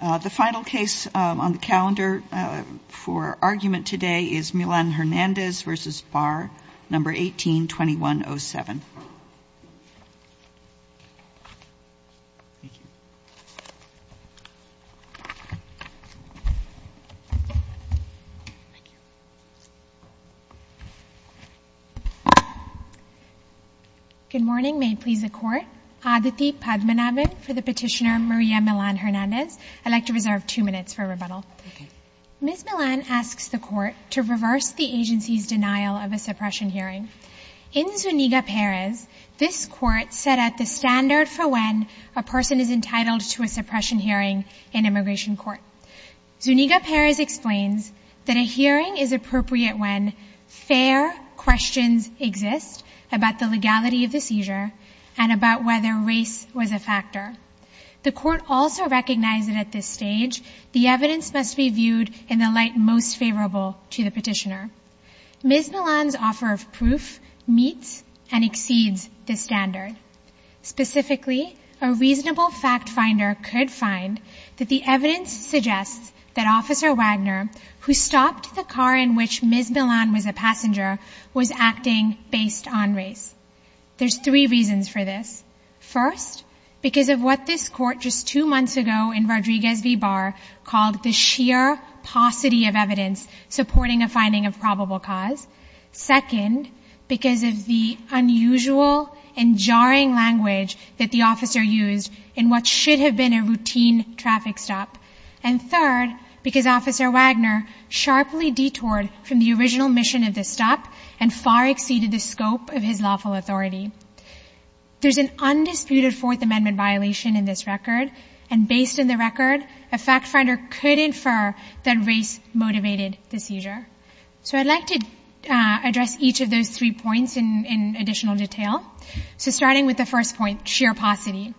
The final case on the calendar for argument today is Milan-Hernandez v. Barr, number 18-2107. Good morning. May it please the court. Aditi Padmanabhan for the petitioner Maria Milan-Hernandez. I'd like to reserve two minutes for rebuttal. Ms. Milan asks the court to reverse the agency's denial of a suppression hearing. In Zuniga-Perez, this court set out the standard for when a person is entitled to a suppression hearing in immigration court. Zuniga-Perez explains that a hearing is appropriate when fair questions exist about the legality of the seizure and about whether race was a factor. The court also recognized that at this stage, the evidence must be viewed in the light most favorable to the petitioner. Ms. Milan's offer of proof meets and exceeds the standard. Specifically, a reasonable fact finder could find that the evidence suggests that Officer Wagner, who stopped the car in which Ms. Milan was a passenger, was acting based on race. There's three reasons for this. First, because of what this court just two months ago in Rodriguez v. Barr called the sheer paucity of evidence supporting a finding of probable cause. Second, because of the unusual and jarring language that the officer used in what should have been a routine traffic stop. And third, because Officer Wagner sharply detoured from the original mission of the stop and far exceeded the scope of his lawful authority. There's an undisputed Fourth Amendment violation in this record, and based on the record, a fact finder could infer that race motivated the seizure. So I'd like to address each of those three points in additional detail. So starting with the first point, sheer paucity.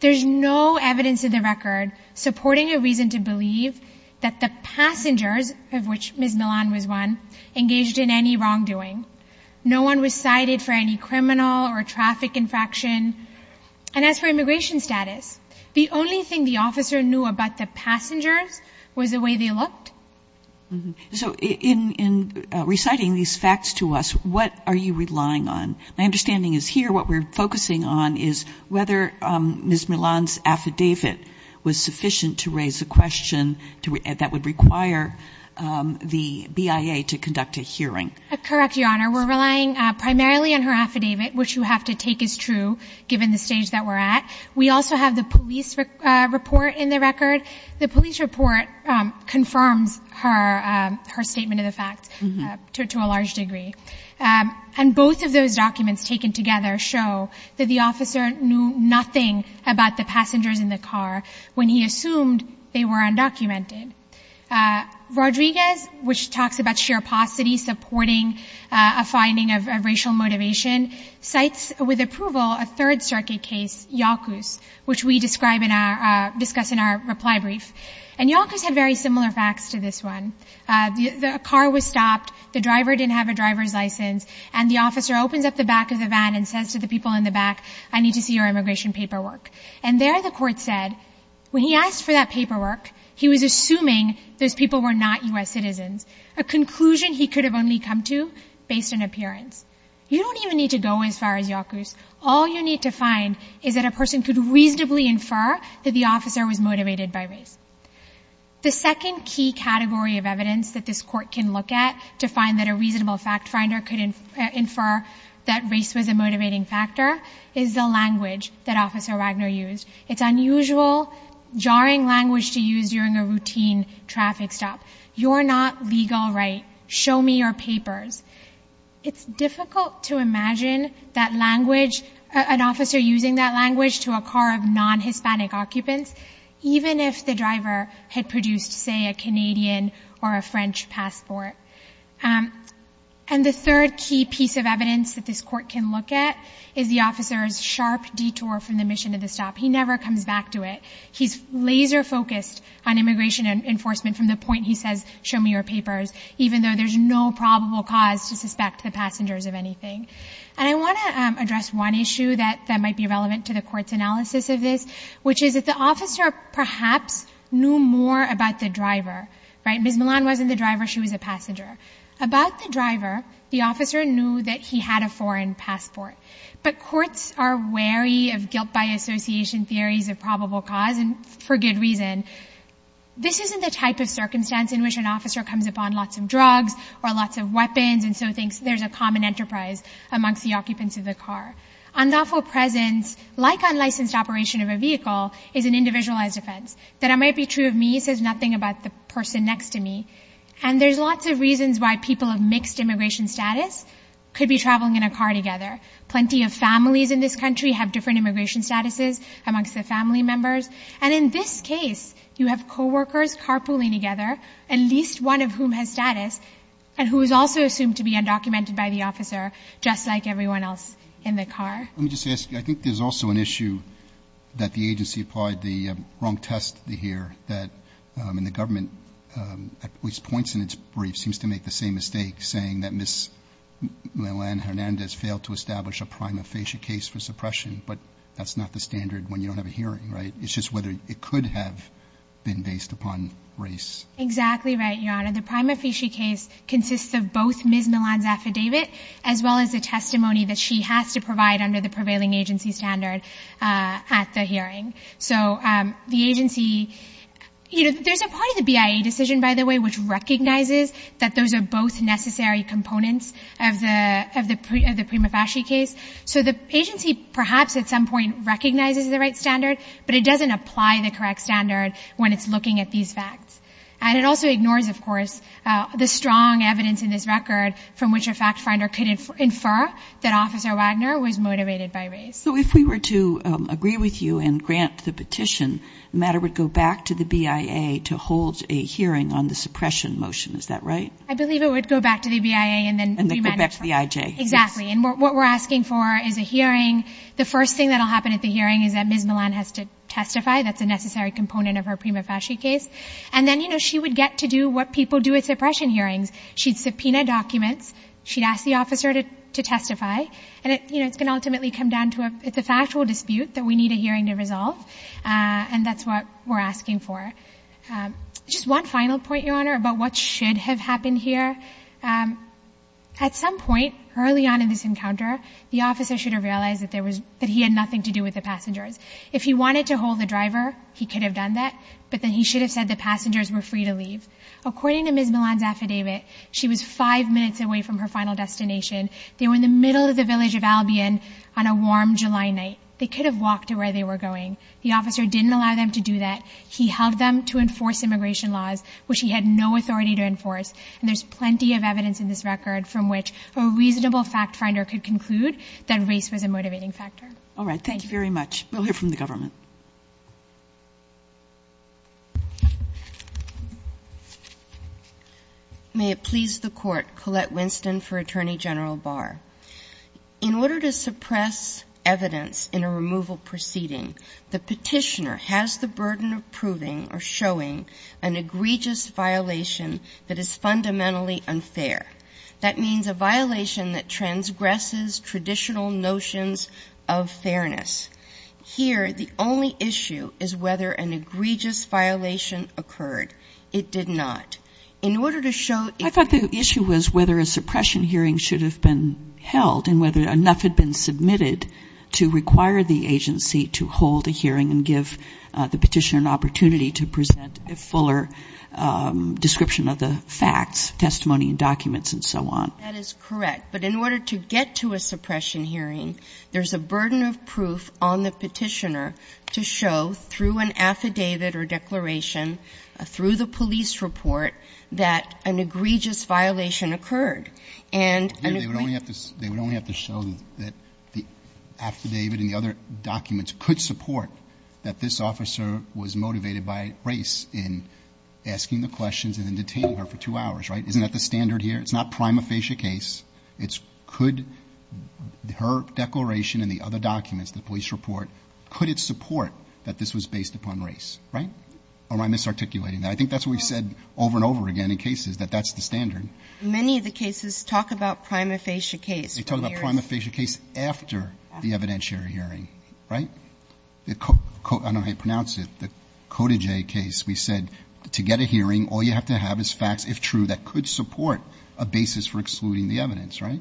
There's no evidence in the record supporting a reason to believe that the passengers, of which Ms. Milan was one, engaged in any wrongdoing. No one was cited for any criminal or traffic infraction. And as for immigration status, the only thing the officer knew about the passengers was the way they looked. So in reciting these facts to us, what are you relying on? My understanding is here, what we're focusing on is whether Ms. Milan's affidavit was sufficient to raise a question that would require the BIA to conduct a hearing. Correct, Your Honor. We're relying primarily on her affidavit, which you have to take as true, given the stage that we're at. We also have the police report in the record. The police report confirms her statement of the facts to a large degree. And both of those documents taken together show that the officer knew nothing about the passengers in the car when he assumed they were undocumented. Rodriguez, which talks about sheer paucity, supporting a finding of racial motivation, cites with approval a Third Circuit case, YACUS, which we discuss in our reply brief. And YACUS had very similar facts to this one. The car was stopped, the driver didn't have a driver's license, and the officer opens up the back of the van and says to the people in the back, I need to see your immigration paperwork. And there the court said, when he asked for that paperwork, he was assuming those people were not U.S. citizens, a conclusion he could have only come to based on appearance. You don't even need to go as far as YACUS. All you need to find is that a person could reasonably infer that the officer was motivated by race. The second key category of evidence that this court can look at to find that a reasonable fact finder could infer that race was a motivating factor is the language that Officer Wagner used. It's unusual, jarring language to use during a routine traffic stop. You're not legal right, show me your papers. It's difficult to imagine that language, an officer using that language to a car of non-Hispanic occupants, even if the driver had produced, say, a Canadian or a French passport. And the third key piece of evidence that this court can look at is the officer's sharp detour from the mission of the stop. He never comes back to it. He's laser focused on immigration and enforcement from the point he says, show me your papers, even though there's no probable cause to suspect the passengers of anything. And I wanna address one issue that might be relevant to the court's analysis of this, which is that the officer perhaps knew more about the driver, right? Ms. Milan wasn't the driver, she was a passenger. About the driver, the officer knew that he had a foreign passport. But courts are wary of guilt by association theories of probable cause, and for good reason. This isn't the type of circumstance in which an officer comes upon lots of drugs or lots of weapons and so thinks there's a common enterprise amongst the occupants of the car. Unlawful presence, like unlicensed operation of a vehicle, is an individualized offense. That it might be true of me says nothing about the person next to me. And there's lots of reasons why people of mixed immigration status could be traveling in a car together. Plenty of families in this country have different immigration statuses amongst the family members. And in this case, you have coworkers carpooling together, at least one of whom has status, and who is also assumed to be undocumented by the officer, just like everyone else in the car. Let me just ask you, I think there's also an issue that the agency applied the wrong test here that the government, at least points in its brief, seems to make the same mistake, saying that Ms. Milan Hernandez failed to establish a prima facie case for suppression, but that's not the standard when you don't have a hearing, right? It's just whether it could have been based upon race. Exactly right, Your Honor. The prima facie case consists of both Ms. Milan's affidavit under the prevailing agency standard at the hearing. So the agency, there's a part of the BIA decision, by the way, which recognizes that those are both necessary components of the prima facie case. So the agency perhaps at some point recognizes the right standard, but it doesn't apply the correct standard when it's looking at these facts. And it also ignores, of course, the strong evidence in this record from which a fact finder could infer that Officer Wagner was motivated by race. So if we were to agree with you and grant the petition, the matter would go back to the BIA to hold a hearing on the suppression motion, is that right? I believe it would go back to the BIA and then remanifest. And then go back to the IJ. Exactly, and what we're asking for is a hearing. The first thing that'll happen at the hearing is that Ms. Milan has to testify, that's a necessary component of her prima facie case. And then she would get to do what people do at suppression hearings. She'd subpoena documents, she'd ask the officer to testify, and it's gonna ultimately come down to a factual dispute that we need a hearing to resolve. And that's what we're asking for. Just one final point, Your Honor, about what should have happened here. At some point early on in this encounter, the officer should have realized that he had nothing to do with the passengers. If he wanted to hold the driver, he could have done that, but then he should have said the passengers were free to leave. According to Ms. Milan's affidavit, she was five minutes away from her final destination. They were in the middle of the village of Albion on a warm July night. They could have walked to where they were going. The officer didn't allow them to do that. He held them to enforce immigration laws, which he had no authority to enforce. And there's plenty of evidence in this record from which a reasonable fact finder could conclude that race was a motivating factor. All right, thank you very much. We'll hear from the government. May it please the court, Colette Winston for Attorney General Barr. In order to suppress evidence in a removal proceeding, the petitioner has the burden of proving or showing an egregious violation that is fundamentally unfair. That means a violation that transgresses traditional notions of fairness. Here, the only issue is whether an egregious violation occurred. It did not. In order to show- It's whether a suppression hearing should have been held and whether enough had been submitted to require the agency to hold a hearing and give the petitioner an opportunity to present a fuller description of the facts, testimony, and documents, and so on. That is correct. But in order to get to a suppression hearing, there's a burden of proof on the petitioner to show through an affidavit or declaration, through the police report, that an egregious violation occurred. They would only have to show that the affidavit and the other documents could support that this officer was motivated by race in asking the questions and then detaining her for two hours, right? Isn't that the standard here? It's not prima facie case. It's could her declaration and the other documents, the police report, could it support that this was based upon race, right? Or am I misarticulating that? I think that's what we've said over and over again in cases, that that's the standard. Many of the cases talk about prima facie case. They talk about prima facie case after the evidentiary hearing, right? I don't know how to pronounce it. The Cota J case, we said, to get a hearing, all you have to have is facts, if true, that could support a basis for excluding the evidence, right?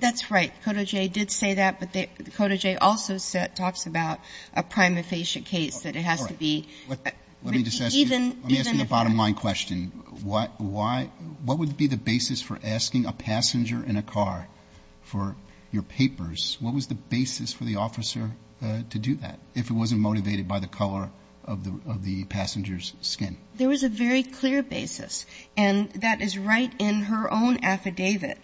That's right. Cota J did say that, but Cota J also talks about a prima facie case, that it has to be, even, even. Let me just ask you, let me ask you the bottom line question. What, why, what would be the basis for asking a passenger in a car for your papers? What was the basis for the officer to do that? If it wasn't motivated by the color of the passenger's skin? There was a very clear basis, and that is right in her own affidavit.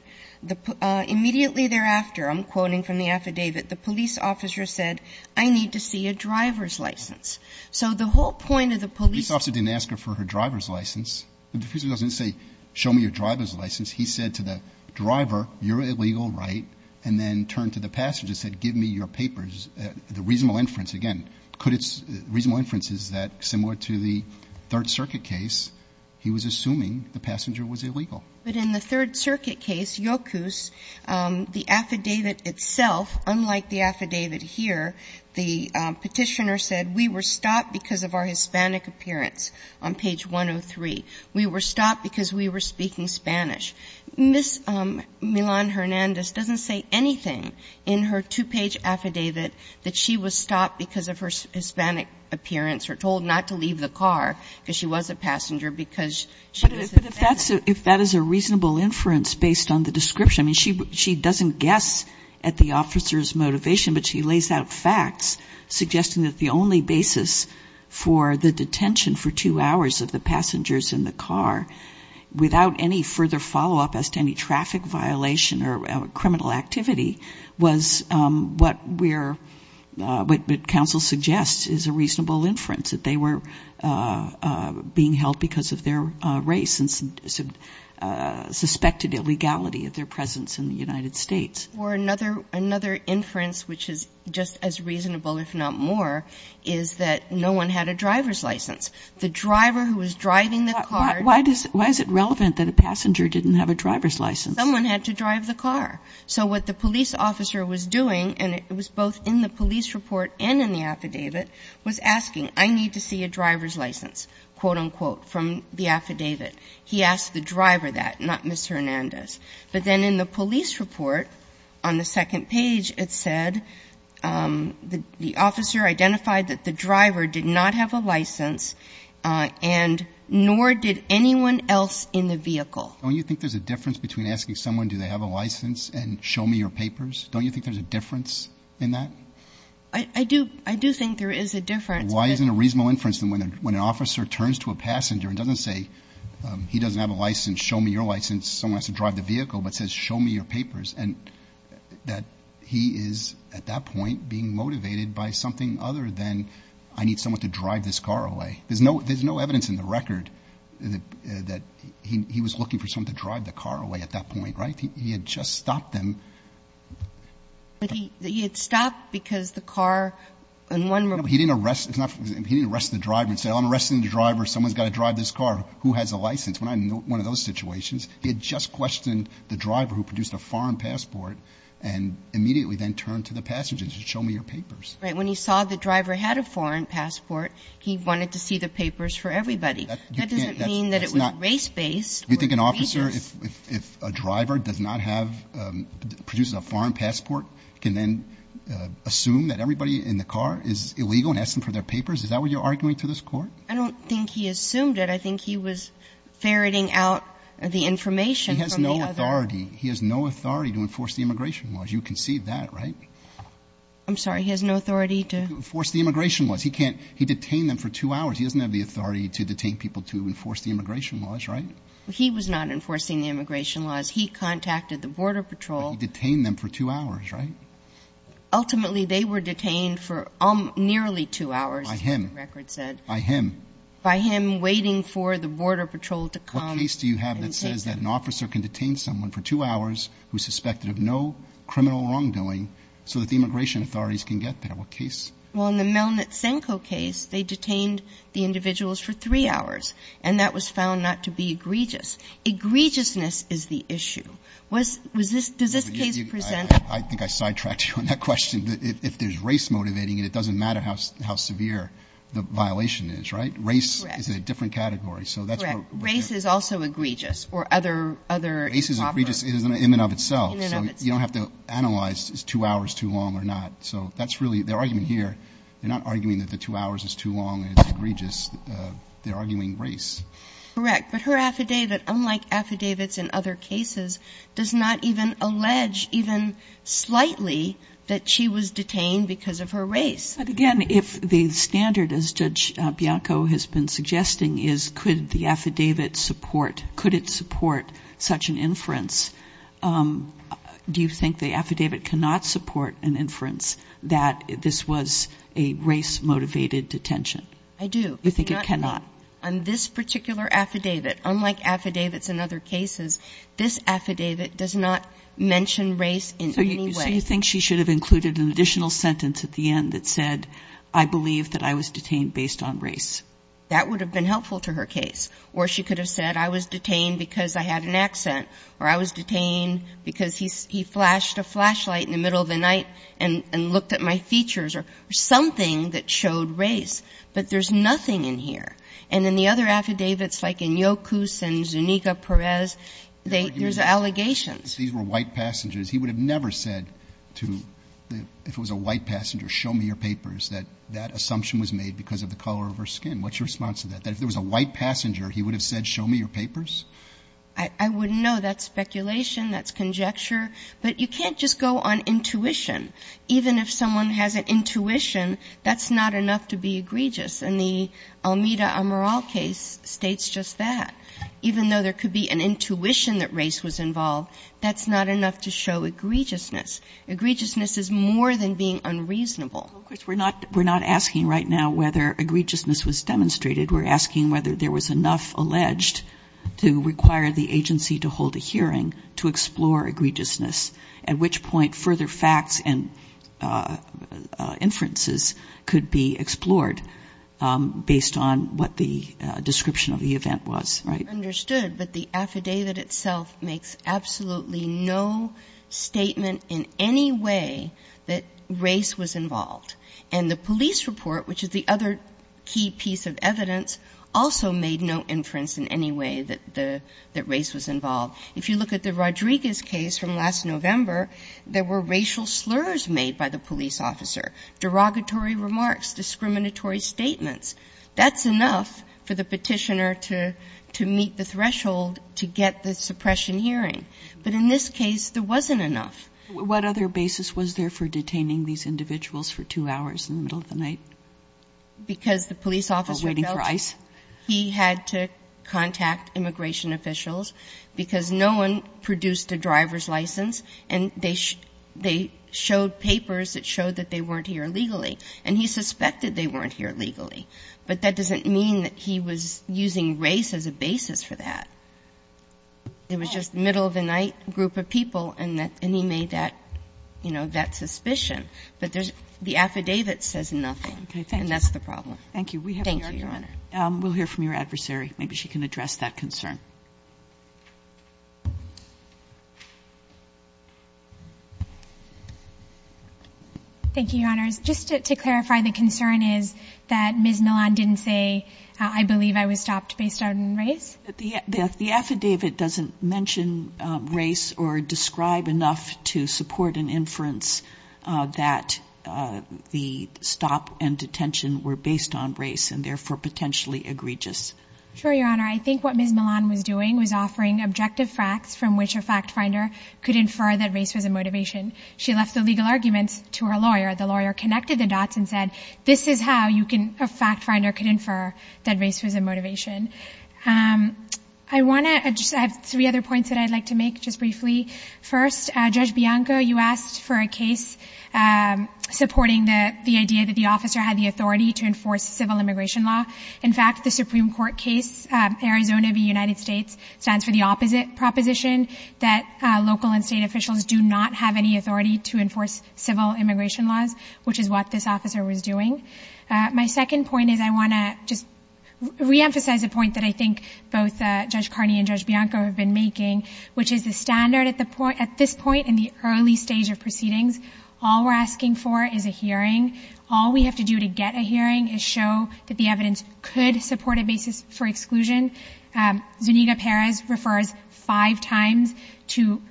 Immediately thereafter, I'm quoting from the affidavit, the police officer said, I need to see a driver's license. So the whole point of the police officer. The police officer didn't ask her for her driver's license. The officer doesn't say, show me your driver's license. He said to the driver, you're illegal, right? And then turned to the passenger and said, give me your papers. The reasonable inference, again, could it's, reasonable inference is that, similar to the Third Circuit case, he was assuming the passenger was illegal. But in the Third Circuit case, Yokus, the affidavit itself, unlike the affidavit here, the petitioner said, we were stopped because of our Hispanic appearance on page 103. We were stopped because we were speaking Spanish. Ms. Milan-Hernandez doesn't say anything in her two-page affidavit that she was stopped because of her Hispanic appearance, or told not to leave the car, because she was a passenger, because she was a passenger. If that is a reasonable inference based on the description, she doesn't guess at the officer's motivation, but she lays out facts, suggesting that the only basis for the detention for two hours of the passengers in the car, without any further follow-up as to any traffic violation or criminal activity, was what we're, what counsel suggests is a reasonable inference, that they were being held because of their race and suspected illegality of their presence in the United States. Or another inference, which is just as reasonable, if not more, is that no one had a driver's license. The driver who was driving the car. Why is it relevant that a passenger didn't have a driver's license? Someone had to drive the car. So what the police officer was doing, and it was both in the police report and in the affidavit, was asking, I need to see a driver's license, quote unquote, from the affidavit. He asked the driver that, not Ms. Hernandez. But then in the police report, on the second page, it said, the officer identified that the driver did not have a license, and nor did anyone else in the vehicle. Don't you think there's a difference between asking someone, do they have a license, and show me your papers? Don't you think there's a difference in that? I do think there is a difference. Why isn't a reasonable inference that when an officer turns to a passenger and doesn't say, he doesn't have a license, show me your license, someone has to drive the vehicle, but says, show me your papers, and that he is, at that point, being motivated by something other than, I need someone to drive this car away. There's no evidence in the record that he was looking for someone to drive the car away at that point, right? He had just stopped them. He had stopped because the car, and one member. He didn't arrest, he didn't arrest the driver and say, I'm arresting the driver, someone's gotta drive this car. Who has a license? When I know one of those situations, he had just questioned the driver who produced a foreign passport and immediately then turned to the passenger to show me your papers. Right, when he saw the driver had a foreign passport, he wanted to see the papers for everybody. That doesn't mean that it was race-based. You think an officer, if a driver does not have, produces a foreign passport, can then assume that everybody in the car is illegal and ask them for their papers? Is that what you're arguing to this court? I don't think he assumed it. I think he was ferreting out the information from the other. He has no authority. He has no authority to enforce the immigration laws. You can see that, right? I'm sorry, he has no authority to? Force the immigration laws. He can't, he detained them for two hours. He doesn't have the authority to detain people to enforce the immigration laws, right? He was not enforcing the immigration laws. He contacted the border patrol. He detained them for two hours, right? Ultimately, they were detained for nearly two hours. By him. By him. By him waiting for the border patrol to come. What case do you have that says that an officer can detain someone for two hours who's suspected of no criminal wrongdoing so that the immigration authorities can get there? What case? Well, in the Melnytsenko case, they detained the individuals for three hours. And that was found not to be egregious. Egregiousness is the issue. Was, was this, does this case present? I think I sidetracked you on that question. If there's race motivating it, it doesn't matter how severe the violation is, right? Race is a different category. So that's where. Race is also egregious or other, other. Race is egregious in and of itself. So you don't have to analyze is two hours too long or not. So that's really their argument here. They're not arguing that the two hours is too long and it's egregious. They're arguing race. Correct. But her affidavit, unlike affidavits in other cases, does not even allege even slightly that she was detained because of her race. But again, if the standard as Judge Bianco has been suggesting is could the affidavit support, could it support such an inference? Do you think the affidavit cannot support an inference that this was a race motivated detention? I do. You think it cannot? On this particular affidavit, unlike affidavits in other cases, this affidavit does not mention race in any way. So you think she should have included an additional sentence at the end that said, I believe that I was detained based on race. That would have been helpful to her case. Or she could have said, I was detained because I had an accent. Or I was detained because he flashed a flashlight in the middle of the night and looked at my features or something that showed race. But there's nothing in here. And in the other affidavits, like in Yokus and Zuniga Perez, there's allegations. These were white passengers. He would have never said to, if it was a white passenger, show me your papers, that that assumption was made because of the color of her skin. What's your response to that? That if there was a white passenger, he would have said, show me your papers? I wouldn't know. That's speculation. That's conjecture. But you can't just go on intuition. Even if someone has an intuition, that's not enough to be egregious. And the Almeida-Amaral case states just that. Even though there could be an intuition that race was involved, that's not enough to show egregiousness. Egregiousness is more than being unreasonable. Of course, we're not asking right now whether egregiousness was demonstrated. We're asking whether there was enough alleged to require the agency to hold a hearing to explore egregiousness, at which point further facts and inferences could be explored based on what the description of the event was, right? Understood, but the affidavit itself makes absolutely no statement in any way that race was involved. And the police report, which is the other key piece of evidence, also made no inference in any way that race was involved. If you look at the Rodriguez case from last November, there were racial slurs made by the police officer, derogatory remarks, discriminatory statements. That's enough for the petitioner to meet the threshold to get the suppression hearing. But in this case, there wasn't enough. What other basis was there for detaining these individuals for two hours in the middle of the night? Because the police officer felt- Or waiting for ICE? He had to contact immigration officials because no one produced a driver's license and they showed papers that showed that they weren't here legally. And he suspected they weren't here legally, but that doesn't mean that he was using race as a basis for that. It was just middle of the night, group of people, and he made that suspicion. But there's the affidavit says nothing. Okay, thank you. And that's the problem. Thank you. Thank you, Your Honor. We'll hear from your adversary. Maybe she can address that concern. Thank you, Your Honors. Just to clarify, the concern is that Ms. Millon didn't say, I believe I was stopped based on race? The affidavit doesn't mention race or describe enough to support an inference that the stop and detention were based on race and therefore potentially egregious. Sure, Your Honor. I think what Ms. Millon was doing was offering objective facts from which a fact finder could infer that race was a motivation. She left the legal arguments to her lawyer. The lawyer connected the dots and said, this is how a fact finder could infer that race was a motivation. I wanna, I just have three other points that I'd like to make just briefly. First, Judge Bianco, you asked for a case supporting the idea that the officer had the authority to enforce civil immigration law. In fact, the Supreme Court case, Arizona v. United States, stands for the opposite proposition that local and state officials do not have any authority to enforce civil immigration laws, which is what this officer was doing. My second point is I wanna just reemphasize a point that I think both Judge Carney and Judge Bianco have been making, which is the standard at this point in the early stage of proceedings, all we're asking for is a hearing. All we have to do to get a hearing is show that the evidence could support a basis for exclusion. Zuniga Perez refers five times to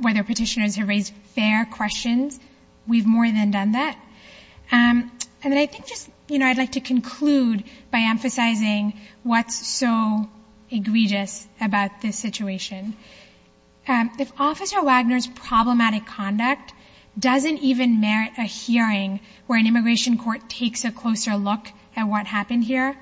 whether petitioners have raised fair questions. We've more than done that. And then I think just, you know, I'd like to conclude by emphasizing what's so egregious about this situation. If Officer Wagner's problematic conduct doesn't even merit a hearing where an immigration court takes a closer look at what happened here,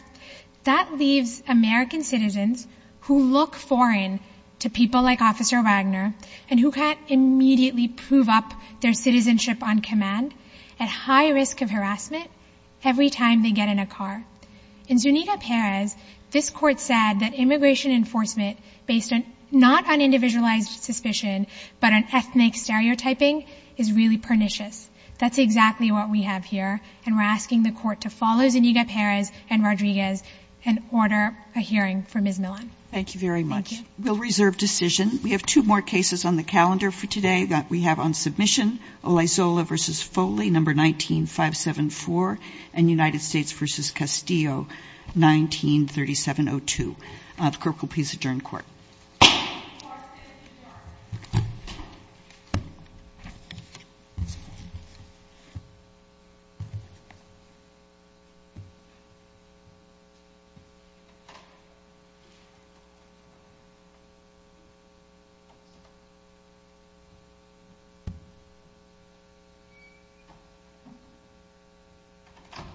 that leaves American citizens who look foreign to people like Officer Wagner and who can't immediately prove up their citizenship on command at high risk of harassment every time they get in a car. In Zuniga Perez, this court said that immigration enforcement based not on individualized suspicion, but on ethnic stereotyping is really pernicious. That's exactly what we have here. And we're asking the court to follow Zuniga Perez and Rodriguez and order a hearing for Ms. Millon. Thank you very much. We'll reserve decision. We have two more cases on the calendar for today that we have on submission. Olayzola v. Foley, number 19574 and United States v. Castillo, 193702. The clerk will please adjourn court. Thank you.